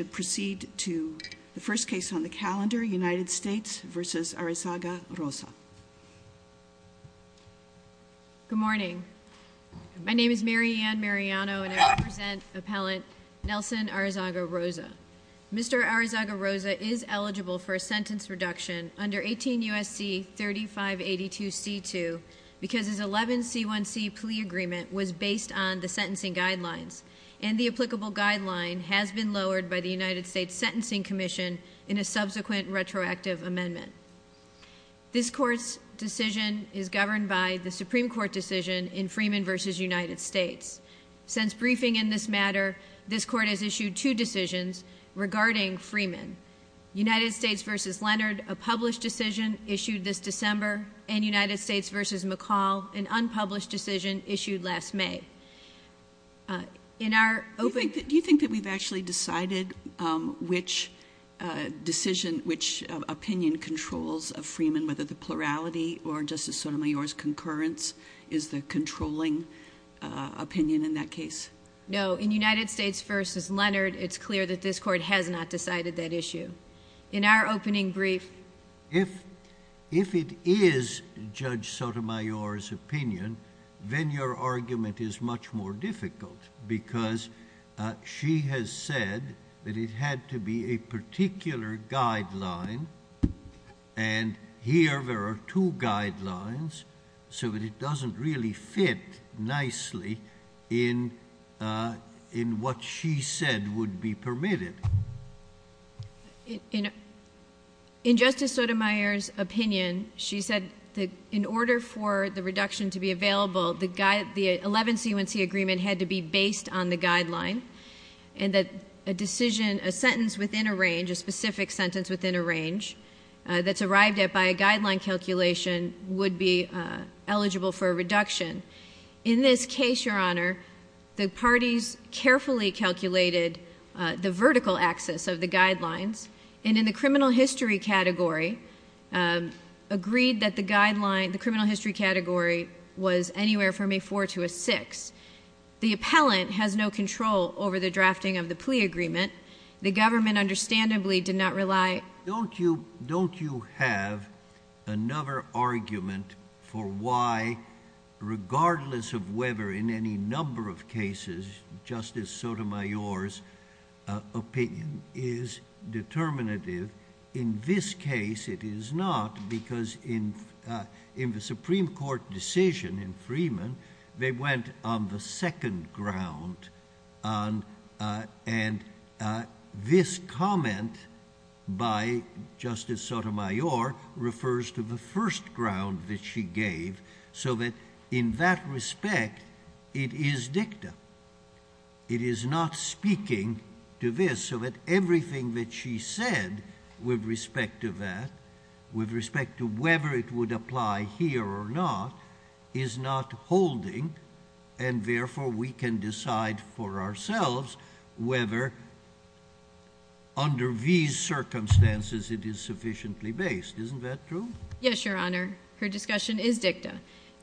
Arizaga-Rosa is eligible for a sentence reduction under 18 U.S.C. 3582 C-2 because his 11-C-1-C plea agreement was based on the sentencing guidelines, and the applicable guideline has been lowered by the U.S. Sentencing Commission in a subsequent retroactive amendment. This Court's decision is governed by the Supreme Court decision in Freeman v. United States. Since briefing in this matter, this Court has issued two decisions regarding Freeman. United States v. Leonard, a published decision issued this December, and United States v. McCall, an unpublished decision issued last May. Do you think that we've actually decided which decision, which opinion controls Freeman, whether the plurality or Justice Sotomayor's concurrence is the controlling opinion in that case? No. In United States v. Leonard, it's clear that this Court has not decided that issue. In our opening brief...... if it is Judge Sotomayor's opinion, then your argument is much more difficult because she has said that it had to be a particular guideline, and here there are two guidelines, so that it doesn't really fit nicely in what she said would be permitted. In Justice Sotomayor's opinion, she said that in order for the reduction to be available, the 11-C-1-C agreement had to be based on the guideline, and that a decision, a sentence within a range, a specific sentence within a range, that's arrived at by a guideline In this case, Your Honor, the parties carefully calculated the vertical axis of the guidelines, and in the criminal history category, agreed that the guideline, the criminal history category, was anywhere from a 4 to a 6. The appellant has no control over the drafting of the plea agreement. The government, understandably, did not rely...... regardless of whether in any number of cases, Justice Sotomayor's opinion is determinative. In this case, it is not, because in the Supreme Court decision in Freeman, they went on the second ground, and this comment by Justice Sotomayor refers to the first ground that in that respect, it is dicta. It is not speaking to this, so that everything that she said with respect to that, with respect to whether it would apply here or not, is not holding, and therefore, we can decide for ourselves whether, under these circumstances, it is sufficiently based. Isn't that true? Yes, Your Honor. Her discussion is dicta.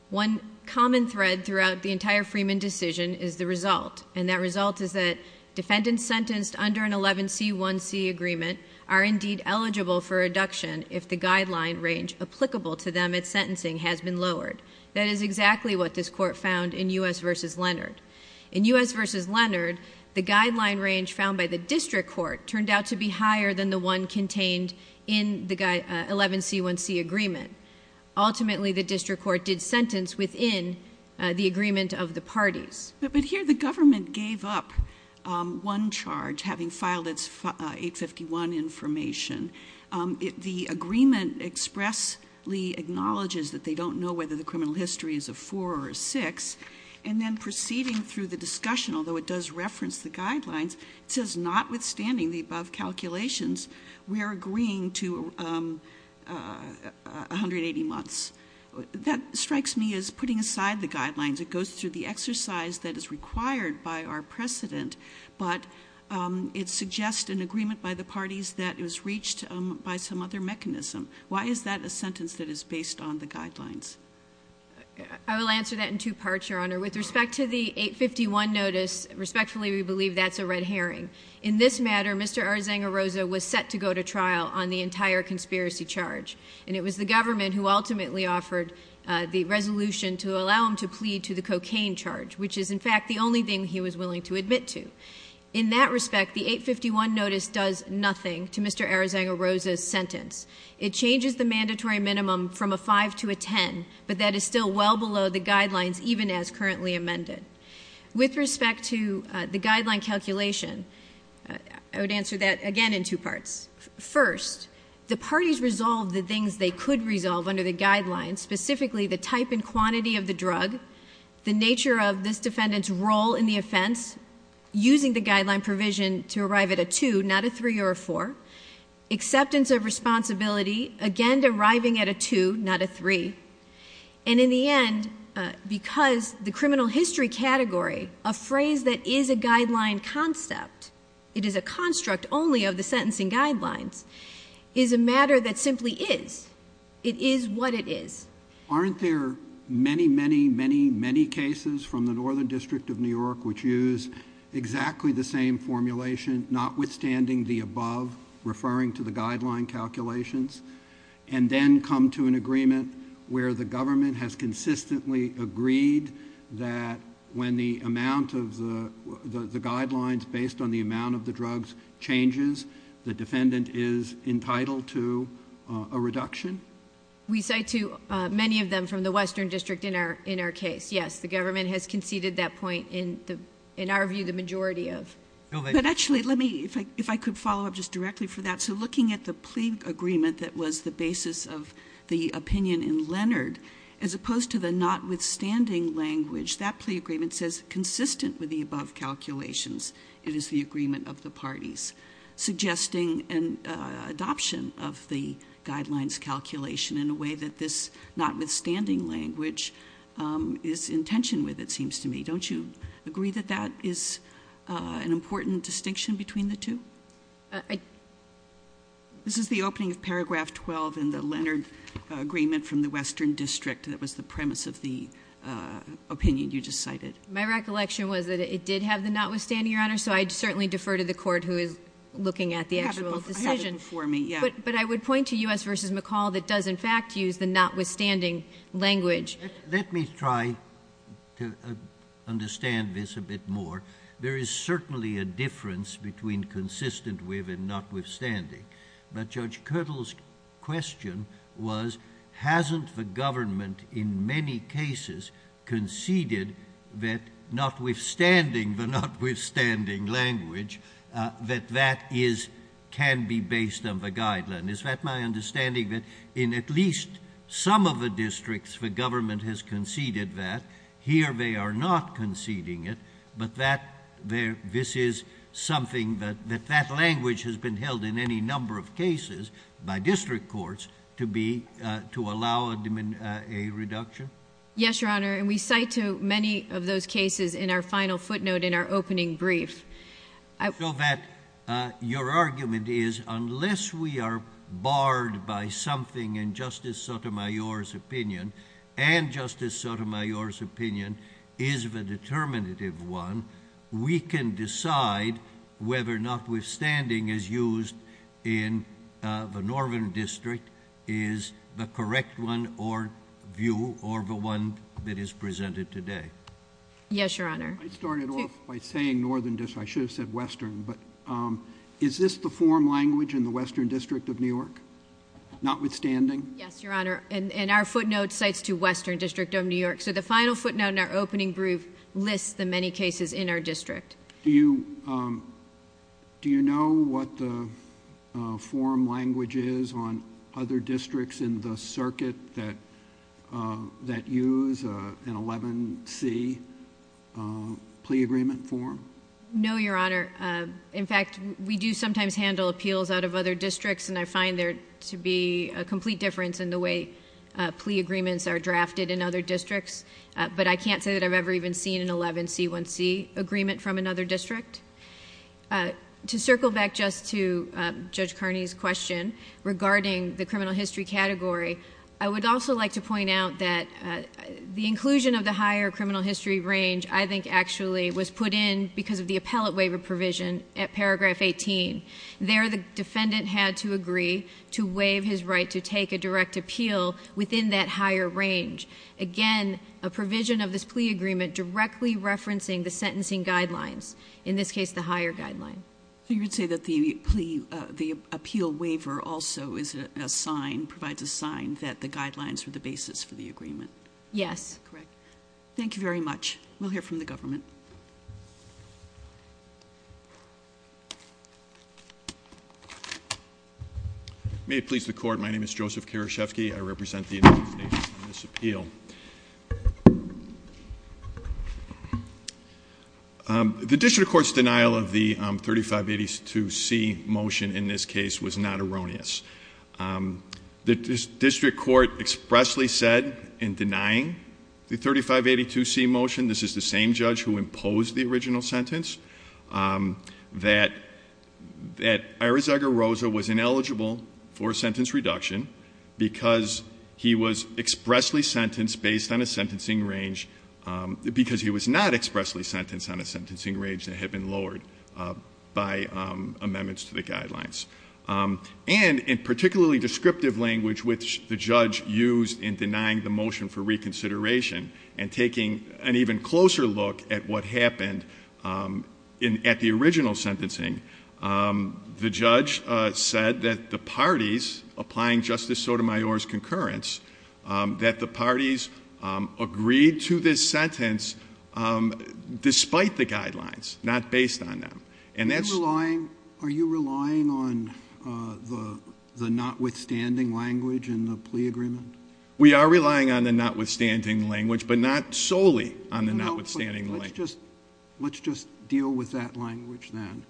One common thread throughout the entire Freeman decision is the result, and that result is that defendants sentenced under an 11C1C agreement are indeed eligible for reduction if the guideline range applicable to them at sentencing has been lowered. That is exactly what this Court found in U.S. v. Leonard. In U.S. v. Leonard, the guideline range found by the District Court turned out to be higher than the one contained in the 11C1C agreement. Ultimately, the District Court did sentence within the agreement of the parties. But here, the government gave up one charge, having filed its 851 information. The agreement expressly acknowledges that they don't know whether the criminal history is a four or a six, and then proceeding through the discussion, although it does reference the guidelines, it says, notwithstanding the above calculations, we are agreeing to 180 months. That strikes me as putting aside the guidelines. It goes through the exercise that is required by our precedent, but it suggests an agreement by the parties that it was reached by some other mechanism. Why is that a sentence that is based on the guidelines? I will answer that in two parts, Your Honor. With respect to the 851 notice, respectfully, we believe that is a red herring. In this matter, Mr. Arzangaroza was set to go to trial on the entire conspiracy charge. It was the government who ultimately offered the resolution to allow him to plead to the cocaine charge, which is, in fact, the only thing he was willing to admit to. In that respect, the 851 notice does nothing to Mr. Arzangaroza's sentence. It changes the mandatory minimum from a five to a ten, but that is still well below the currently amended. With respect to the guideline calculation, I would answer that again in two parts. First, the parties resolved the things they could resolve under the guidelines, specifically the type and quantity of the drug, the nature of this defendant's role in the offense, using the guideline provision to arrive at a two, not a three or a four, acceptance of responsibility, again arriving at a two, not a three. In the end, because the criminal history category, a phrase that is a guideline concept, it is a construct only of the sentencing guidelines, is a matter that simply is, it is what it is. Aren't there many, many, many, many cases from the Northern District of New York which use exactly the same formulation, notwithstanding the above, referring to the guideline calculations, and then come to an agreement where the government has consistently agreed that when the amount of the guidelines based on the amount of the drugs changes, the defendant is entitled to a reduction? Ms. Trevizo. We say to many of them from the Western District in our case, yes, the government has conceded that point in our view, the majority of... Ms. Trevizo. Actually, let me, if I could follow up just directly for that. So looking at the plea agreement that was the basis of the opinion in Leonard, as opposed to the notwithstanding language, that plea agreement says consistent with the above calculations, it is the agreement of the parties, suggesting an adoption of the guidelines calculation in a way that this notwithstanding language is in tension with, it seems to me. Don't you agree that that is an important distinction between the two? Ms. Trevizo. I... Ms. Trevizo. This is the opening of paragraph 12 in the Leonard agreement from the Western District that was the premise of the opinion you just cited. Ms. Trevizo. My recollection was that it did have the notwithstanding, Your Honor, so I'd certainly defer to the Court who is looking at the actual decision. Ms. Trevizo. I have it before me. Yes. Ms. Trevizo. But I would point to U.S. v. McCall that does, in fact, use the notwithstanding language. Mr. Scalia. Let me try to understand this a bit more. There is certainly a difference between consistent with and notwithstanding, but Judge Kirtle's question was, hasn't the government in many cases conceded that notwithstanding the notwithstanding language, that that can be based on the guideline? Is that my understanding, that in at least some of the districts, the government has been conceding it, but that this is something that that language has been held in any number of cases by district courts to allow a reduction? Ms. Trevizo. Yes, Your Honor, and we cite to many of those cases in our final footnote in our opening brief. Mr. Scalia. So that your argument is, unless we are barred by something in Justice Sotomayor's opinion and Justice Sotomayor's opinion is the determinative one, we can decide whether notwithstanding is used in the Northern District is the correct one or view or the one that is presented today? Ms. Trevizo. Yes, Your Honor. Mr. Scalia. I started off by saying Northern District. I should have said Western, but is this the form language in the Western District of New York, notwithstanding? Ms. Trevizo. Yes, Your Honor, and our footnote cites to Western District of New York, so the final footnote in our opening brief lists the many cases in our district. Mr. Scalia. Do you know what the form language is on other districts in the circuit that use an 11C plea agreement form? Ms. Trevizo. No, Your Honor. In fact, we do sometimes handle appeals out of other districts, and I find there to be a complete difference in the way plea agreements are drafted in other districts, but I can't say that I've ever even seen an 11C1C agreement from another district. To circle back just to Judge Kearney's question regarding the criminal history category, I would also like to point out that the inclusion of the higher criminal history range, I think actually was put in because of the appellate waiver provision at paragraph 18. There the defendant had to agree to waive his right to take a direct appeal within that higher range. Again, a provision of this plea agreement directly referencing the sentencing guidelines. In this case, the higher guideline. So you would say that the appeal waiver also provides a sign that the guidelines were the basis for the agreement? Yes. Correct. Thank you very much. We'll hear from the government. May it please the court, my name is Joseph Karashevsky. I represent the United Nations on this appeal. The district court's denial of the 3582C motion in this case was not erroneous. The district court expressly said in denying the 3582C motion, this is the same judge who imposed the original sentence, that Arizaga Rosa was ineligible for sentence reduction because he was expressly sentenced based on a sentencing range. Because he was not expressly sentenced on a sentencing range that had been lowered by amendments to the guidelines. And in particularly descriptive language, which the judge used in denying the motion for reconsideration. And taking an even closer look at what happened at the original sentencing. The judge said that the parties, applying Justice Sotomayor's concurrence, that the parties agreed to this sentence despite the guidelines, not based on them. And that's- Are you relying on the notwithstanding language in the plea agreement? We are relying on the notwithstanding language, but not solely on the notwithstanding language. Let's just deal with that language then.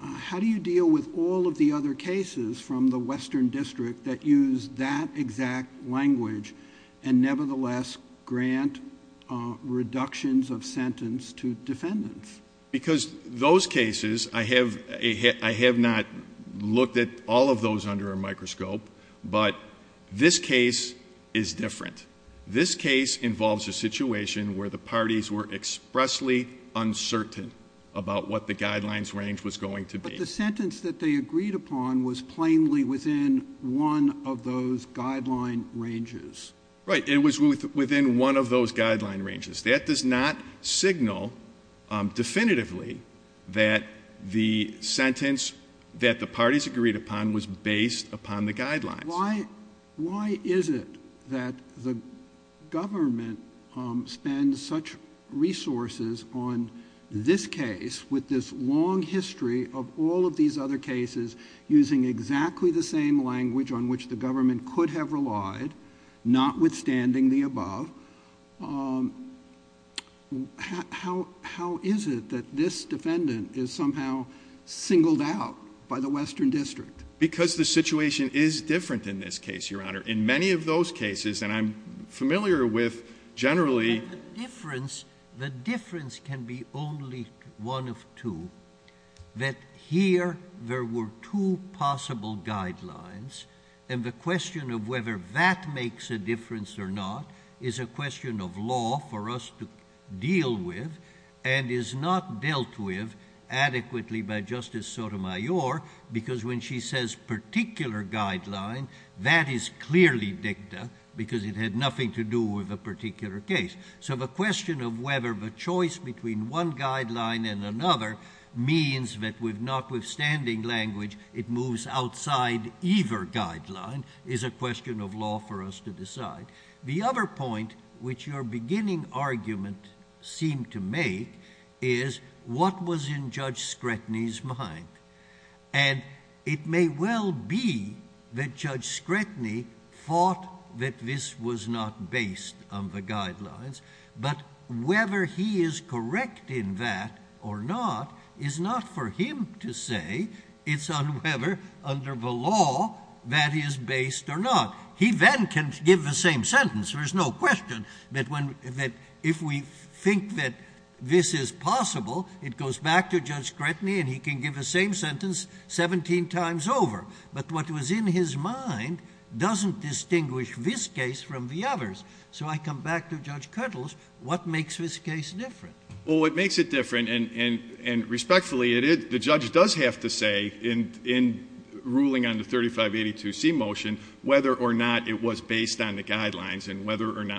How do you deal with all of the other cases from the western district that use that exact language? And nevertheless grant reductions of sentence to defendants? Because those cases, I have not looked at all of those under a microscope. But this case is different. This case involves a situation where the parties were expressly uncertain about what the guidelines range was going to be. But the sentence that they agreed upon was plainly within one of those guideline ranges. Right, it was within one of those guideline ranges. That does not signal definitively that the sentence that the parties agreed upon was based upon the guidelines. Why is it that the government spends such resources on this case with this long history of all of these other cases using exactly the same language on which the government could have relied, notwithstanding the above. How is it that this defendant is somehow singled out by the western district? Because the situation is different in this case, your honor. In many of those cases, and I'm familiar with generally- But the difference can be only one of two. That here, there were two possible guidelines. And the question of whether that makes a difference or not is a question of law for us to deal with and is not dealt with adequately by Justice Sotomayor. Because when she says particular guideline, that is clearly dicta, because it had nothing to do with a particular case. So the question of whether the choice between one guideline and another means that with notwithstanding language, it moves outside either guideline is a question of law for us to decide. The other point, which your beginning argument seemed to make, is what was in Judge Scretny's mind. And it may well be that Judge Scretny thought that this was not based on the guidelines. But whether he is correct in that or not is not for him to say, it's on whether under the law that is based or not. He then can give the same sentence. There's no question that if we think that this is possible, it goes back to Judge Scretny and he can give the same sentence 17 times over. But what was in his mind doesn't distinguish this case from the others. So I come back to Judge Kudlow, what makes this case different? Well, what makes it different, and respectfully, the judge does have to say in ruling on the 3582C motion, whether or not it was based on the guidelines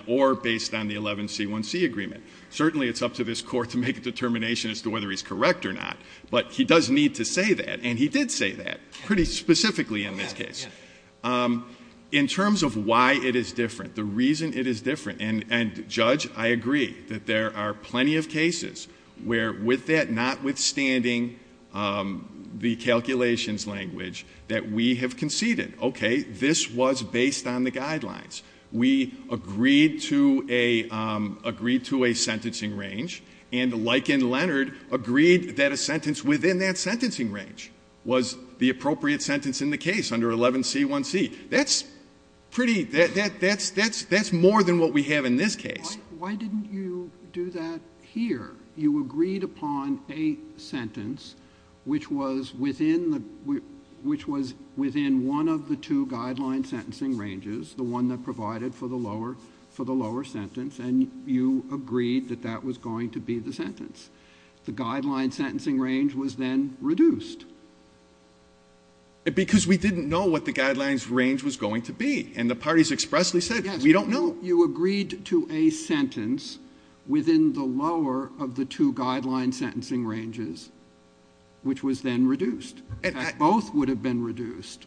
or based on the 11C1C agreement. Certainly, it's up to this court to make a determination as to whether he's correct or not. But he does need to say that, and he did say that pretty specifically in this case. In terms of why it is different, the reason it is different, and Judge, I agree that there are plenty of cases where with that notwithstanding the calculations language that we have conceded, okay, this was based on the guidelines. We agreed to a sentencing range, and like in Leonard, agreed that a sentence within that sentencing range was the appropriate sentence in the case under 11C1C. That's pretty, that's more than what we have in this case. Why didn't you do that here? You agreed upon a sentence which was within one of the two guideline sentencing ranges, the one that provided for the lower sentence, and you agreed that that was going to be the sentence. The guideline sentencing range was then reduced. Because we didn't know what the guidelines range was going to be, and the parties expressly said, we don't know. You agreed to a sentence within the lower of the two guideline sentencing ranges, which was then reduced. Both would have been reduced.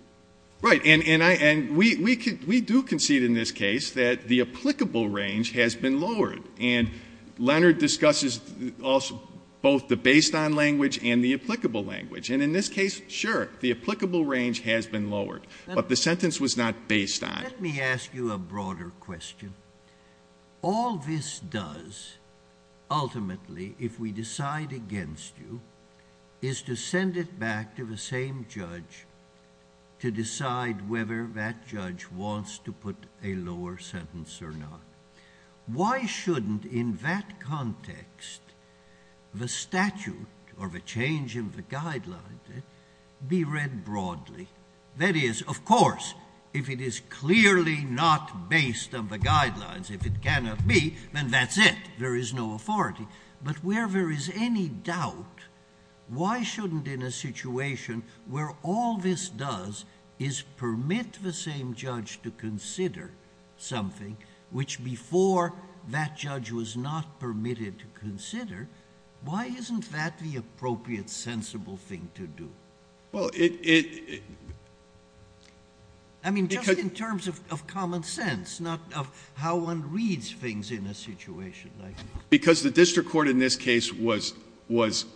Right, and we do concede in this case that the applicable range has been lowered, and Leonard discusses both the based on language and the applicable language, and in this case, sure, the applicable range has been lowered, but the sentence was not based on. Let me ask you a broader question. All this does, ultimately, if we decide against you, is to send it back to the same judge to decide whether that judge wants to put a lower sentence or not. Why shouldn't, in that context, the statute, or the change in the guideline, be read broadly? That is, of course, if it is clearly not based on the guidelines, if it cannot be, then that's it. There is no authority. But where there is any doubt, why shouldn't in a situation where all this does is permit the same judge to consider something, which before that judge was not permitted to consider, why isn't that the appropriate, sensible thing to do? Well, it... I mean, just in terms of common sense, not of how one reads things in a situation like this. Because the district court in this case was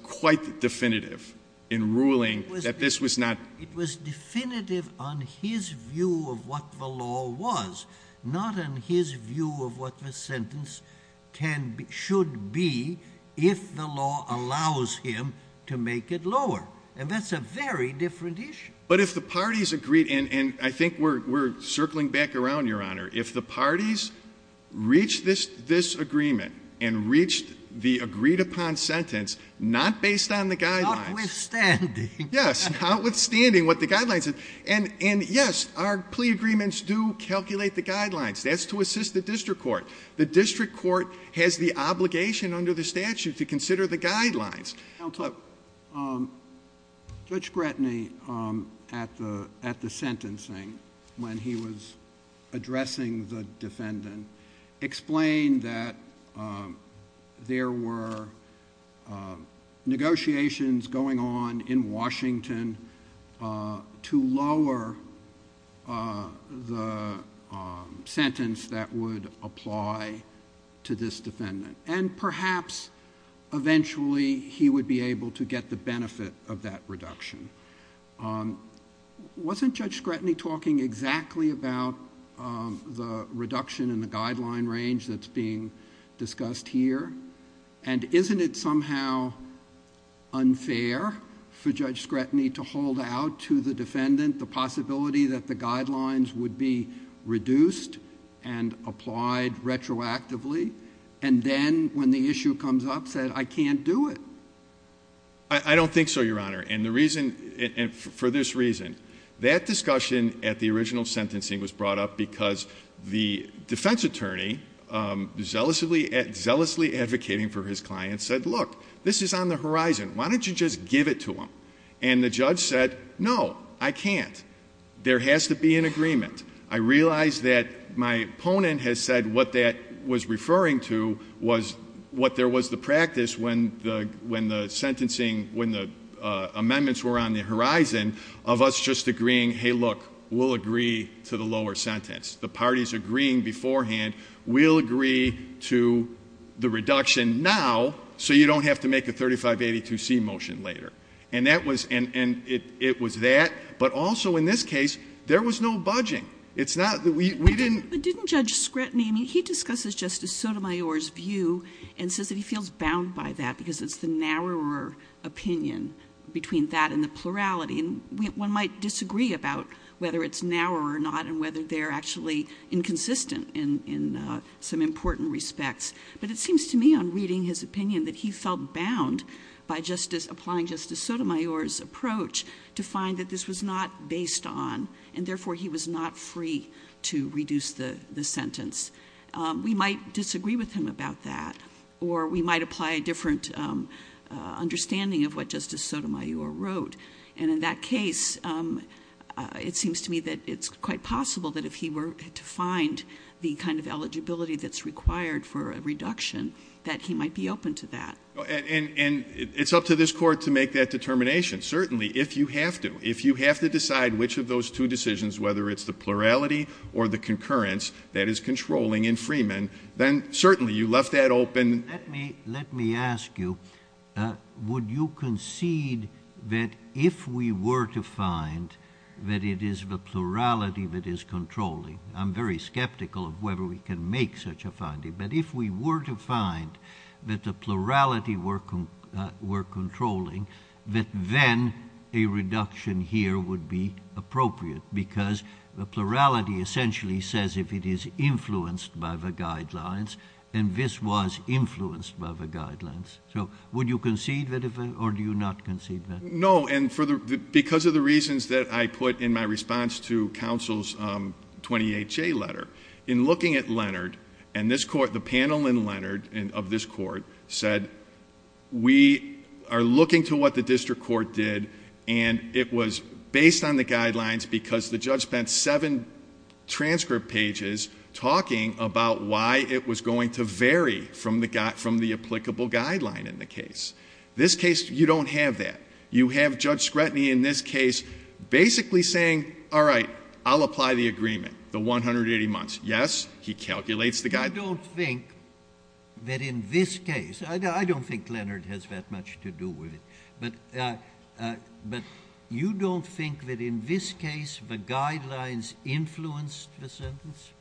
quite definitive in ruling that this was not... It was definitive on his view of what the law was, not on his view of what the sentence should be if the law allows him to make it lower. And that's a very different issue. But if the parties agreed... And I think we're circling back around, Your Honor. If the parties reached this agreement and reached the agreed-upon sentence, not based on the guidelines... Notwithstanding. Yes, notwithstanding what the guidelines... And yes, our plea agreements do calculate the guidelines. That's to assist the district court. The district court has the obligation under the statute to consider the guidelines. Counselor, Judge Gretny at the sentencing, when he was addressing the defendant, explained that there were negotiations going on in Washington to lower the sentence that would apply to this defendant. And perhaps, eventually, he would be able to get the benefit of that reduction. Wasn't Judge Gretny talking exactly about the reduction in the guideline range that's being discussed here? And isn't it somehow unfair for Judge Gretny to hold out to the defendant the possibility that the guidelines would be reduced and applied retroactively, and then, when the issue comes up, said, I can't do it? I don't think so, Your Honor. And for this reason, that discussion at the original sentencing was brought up because the defense attorney, zealously advocating for his client, said, look, this is on the horizon. Why don't you just give it to him? And the judge said, no, I can't. There has to be an agreement. I realize that my opponent has said what that was referring to was what there was the practice when the amendments were on the horizon of us just agreeing, hey, look, we'll agree to the lower sentence. The parties agreeing beforehand, we'll agree to the reduction now, so you don't have to make a 3582C motion later. And it was that. But also, in this case, there was no budging. It's not that we didn't- But didn't Judge Gretny, I mean, he discusses Justice Sotomayor's view and says that he feels bound by that because it's the narrower opinion between that and the plurality. And one might disagree about whether it's narrower or not and whether they're actually inconsistent in some important respects. But it seems to me, on reading his opinion, that he felt bound by applying Justice Sotomayor's approach to find that this was not based on, and therefore, he was not free to reduce the sentence. We might disagree with him about that, or we might apply a different understanding of what Justice Sotomayor wrote. And in that case, it seems to me that it's quite possible that if he were to find the kind of eligibility that's required for a reduction, that he might be open to that. And it's up to this court to make that determination. Certainly, if you have to, if you have to decide which of those two decisions, whether it's the plurality or the concurrence that is controlling in Freeman, then certainly you left that open. Let me ask you, would you concede that if we were to find that it is the plurality that is controlling, I'm very skeptical of whether we can make such a finding, but if we were to find that the plurality were controlling, that then a reduction here would be appropriate, because the plurality essentially says if it is influenced by the guidelines, then this was influenced by the guidelines. So would you concede that, or do you not concede that? No, and because of the reasons that I put in my response to counsel's 28-J letter, in looking at Leonard, and this court, the panel in Leonard of this court said, we are looking to what the district court did, and it was based on the guidelines because the judge spent seven transcript pages talking about why it was going to vary from the applicable guideline in the case. This case, you don't have that. You have Judge Scretany in this case basically saying, all right, I'll apply the agreement, the 180 months. Yes, he calculates the guideline. You don't think that in this case, I don't think Leonard has that much to do with it, but you don't think that in this case, the guidelines influenced the sentence?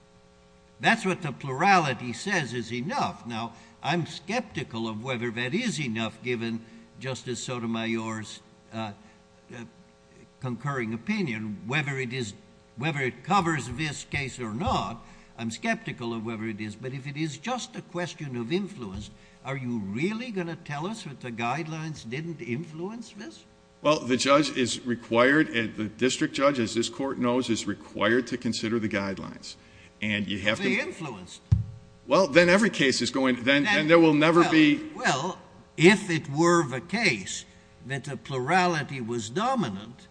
That's what the plurality says is enough. Now, I'm skeptical of whether that is enough given Justice Sotomayor's concurring opinion, whether it covers this case or not. I'm skeptical of whether it is, but if it is just a question of influence, are you really going to tell us that the guidelines didn't influence this? Well, the judge is required, the district judge, as this court knows, is required to consider the guidelines, and you have to- To be influenced. Well, then every case is going, then there will never be- Well, if it were the case that the plurality was dominant,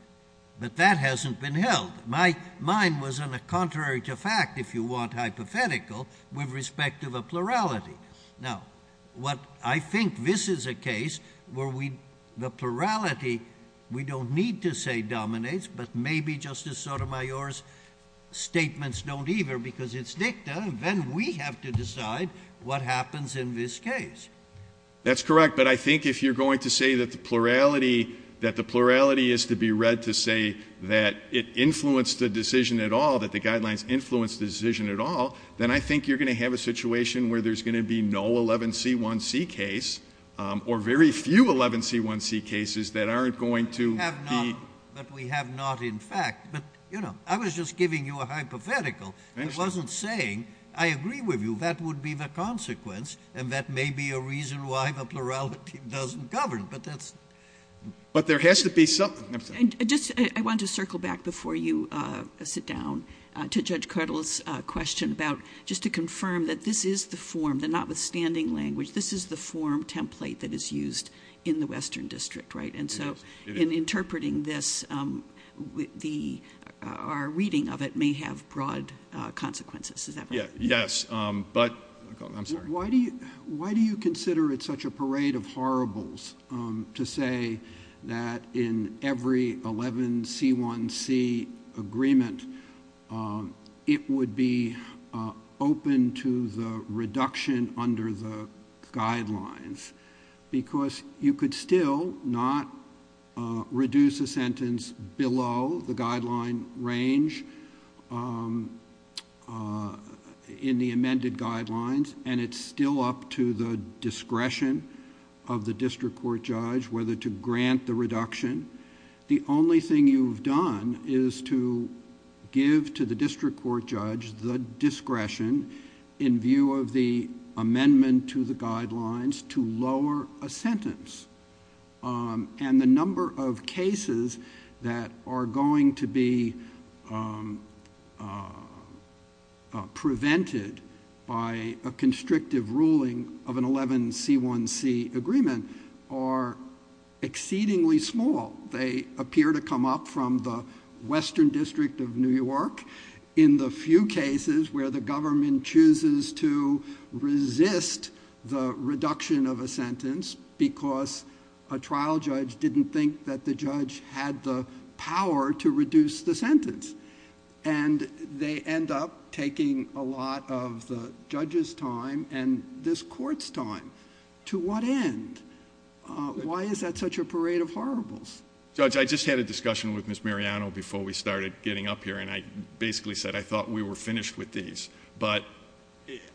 but that hasn't been held. My mind was on a contrary to fact, if you want, hypothetical with respect to the plurality. Now, I think this is a case where the plurality, we don't need to say dominates, but maybe Justice Sotomayor's statements don't either because it's dicta, and then we have to decide what happens in this case. That's correct, but I think if you're going to say that the plurality is to be read to say that it influenced the decision at all, that the guidelines influenced the decision at all, then I think you're going to have a situation where there's going to be no 11C1C case, or very few 11C1C cases that aren't going to be- But we have not in fact, but I was just giving you a hypothetical. I wasn't saying, I agree with you, that would be the consequence, and that may be a reason why the plurality doesn't govern, but that's- But there has to be something. I want to circle back before you sit down to Judge Cuddle's question about, just to confirm that this is the form, the notwithstanding language, this is the form template that is used in the Western District, right? And so in interpreting this, our reading of it may have broad consequences, is that right? Yes, but I'm sorry. Why do you consider it such a parade of horribles to say that in every 11C1C agreement, it would be open to the reduction under the guidelines? Because you could still not reduce a sentence below the guideline range in the amended guidelines, and it's still up to the discretion of the district court judge whether to grant the reduction. The only thing you've done is to give to the district court judge the discretion in view of the amendment to the guidelines to lower a sentence. And the number of cases that are going to be prevented by a constrictive ruling of an 11C1C agreement are exceedingly small. They appear to come up from the Western District of New York. In the few cases where the government chooses to resist the reduction of a sentence because a trial judge didn't think that the judge had the power to reduce the sentence, and they end up taking a lot of the judge's time and this court's time, to what end? Why is that such a parade of horribles? Judge, I just had a discussion with Ms. Mariano before we started getting up here, and I basically said I thought we were finished with these. But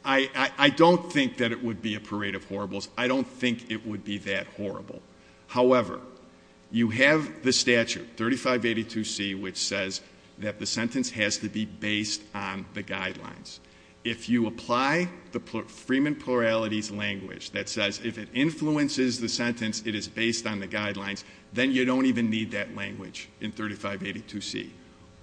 I don't think that it would be a parade of horribles. I don't think it would be that horrible. However, you have the statute, 3582C, which says that the sentence has to be based on the guidelines. If you apply the Freeman Plurality's language that says if it influences the sentence, it is based on the guidelines, then you don't even need that language in 3582C.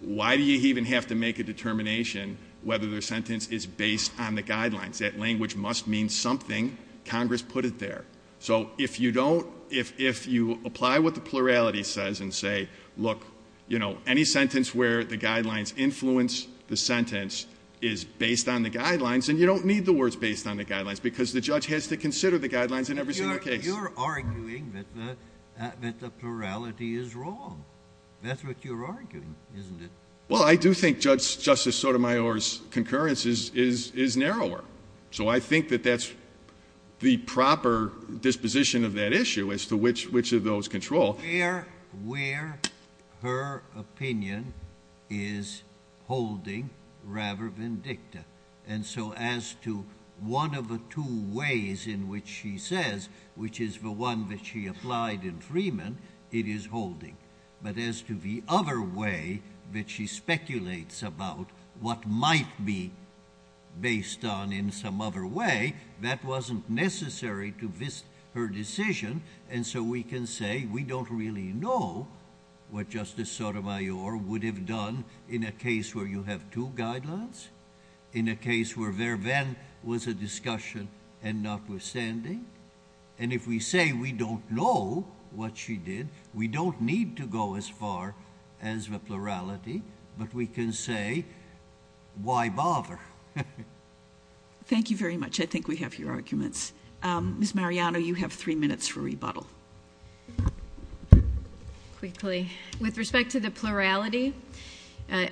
Why do you even have to make a determination whether the sentence is based on the guidelines? That language must mean something. Congress put it there. So if you don't, if you apply what the plurality says and say, look, any sentence where the guidelines influence the sentence is based on the guidelines, then you don't need the words based on the guidelines because the judge has to consider the guidelines in every single case. You're arguing that the plurality is wrong. That's what you're arguing, isn't it? Well, I do think Justice Sotomayor's concurrence is narrower. So I think that that's the proper disposition of that issue as to which of those control. Where her opinion is holding rather than dicta. And so as to one of the two ways in which she says, which is the one that she applied in Freeman, it is holding. But as to the other way that she speculates about what might be based on in some other way, that wasn't necessary to her decision. And so we can say we don't really know what Justice Sotomayor would have done in a case where you have two guidelines, in a case where there then was a discussion and notwithstanding. And if we say we don't know what she did, we don't need to go as far as the plurality. But we can say, why bother? Thank you very much. I think we have your arguments. Ms. Mariano, you have three minutes for rebuttal. Quickly. With respect to the plurality,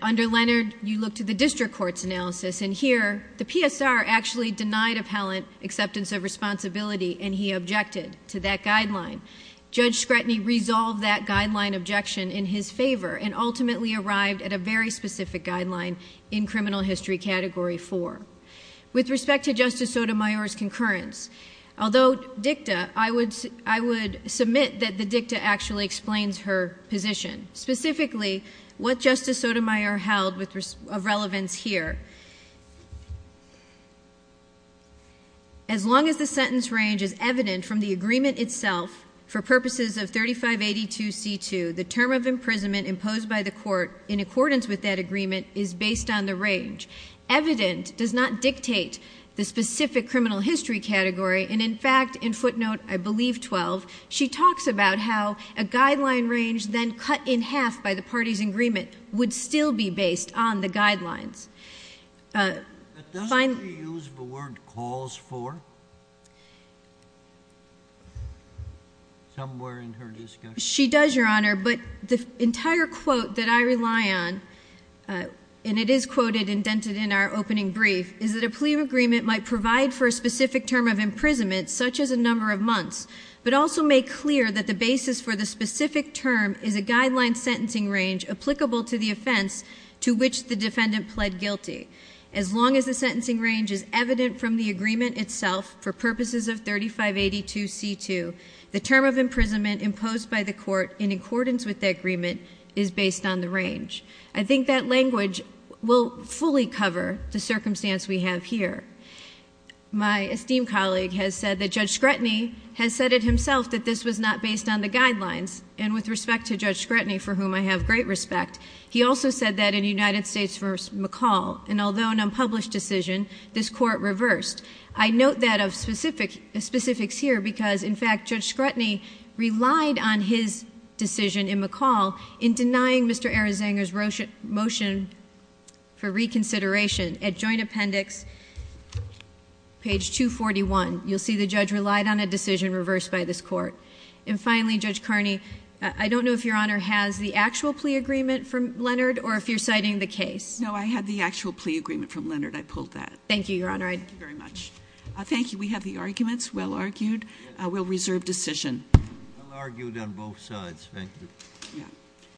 under Leonard, you look to the district court's analysis. And here, the PSR actually denied appellant acceptance of responsibility and he objected to that guideline. Judge Scretney resolved that guideline objection in his favor and ultimately arrived at a very specific guideline in criminal history category four. With respect to Justice Sotomayor's concurrence, although dicta, I would submit that the dicta actually explains her position. Specifically, what Justice Sotomayor held of relevance here, as long as the sentence range is evident from the agreement itself, for purposes of 3582C2, the term of imprisonment imposed by the court in accordance with that agreement is based on the range. Evident does not dictate the specific criminal history category. And in fact, in footnote, I believe 12, she talks about how a guideline range then cut in half by the party's agreement would still be based on the guidelines. But doesn't she use the word calls for? Somewhere in her discussion. She does, Your Honor. But the entire quote that I rely on, and it is quoted and dented in our opening brief, is that a plea agreement might provide for a specific term of imprisonment, such as a number of months, but also make clear that the basis for the specific term is a guideline sentencing range applicable to the offense to which the defendant pled guilty. As long as the sentencing range is evident from the agreement itself, for purposes of 3582C2, the term of imprisonment imposed by the court in accordance with the agreement is based on the range. I think that language will fully cover the circumstance we have here. My esteemed colleague has said that Judge Scretany has said it himself that this was not based on the guidelines. And with respect to Judge Scretany, for whom I have great respect, he also said that in United States v. McCall, and although an unpublished decision, this court reversed. I note that of specifics here because, in fact, Judge Scretany relied on his decision in McCall in denying Mr. Arizanger's motion for reconsideration at joint appendix, page 241. You'll see the judge relied on a decision reversed by this court. And finally, Judge Carney, I don't know if Your Honor has the actual plea agreement from Leonard or if you're citing the case. No, I had the actual plea agreement from Leonard. I pulled that. Thank you, Your Honor. Thank you very much. Thank you. We have the arguments. Well argued. We'll reserve decision. Well argued on both sides. Thank you.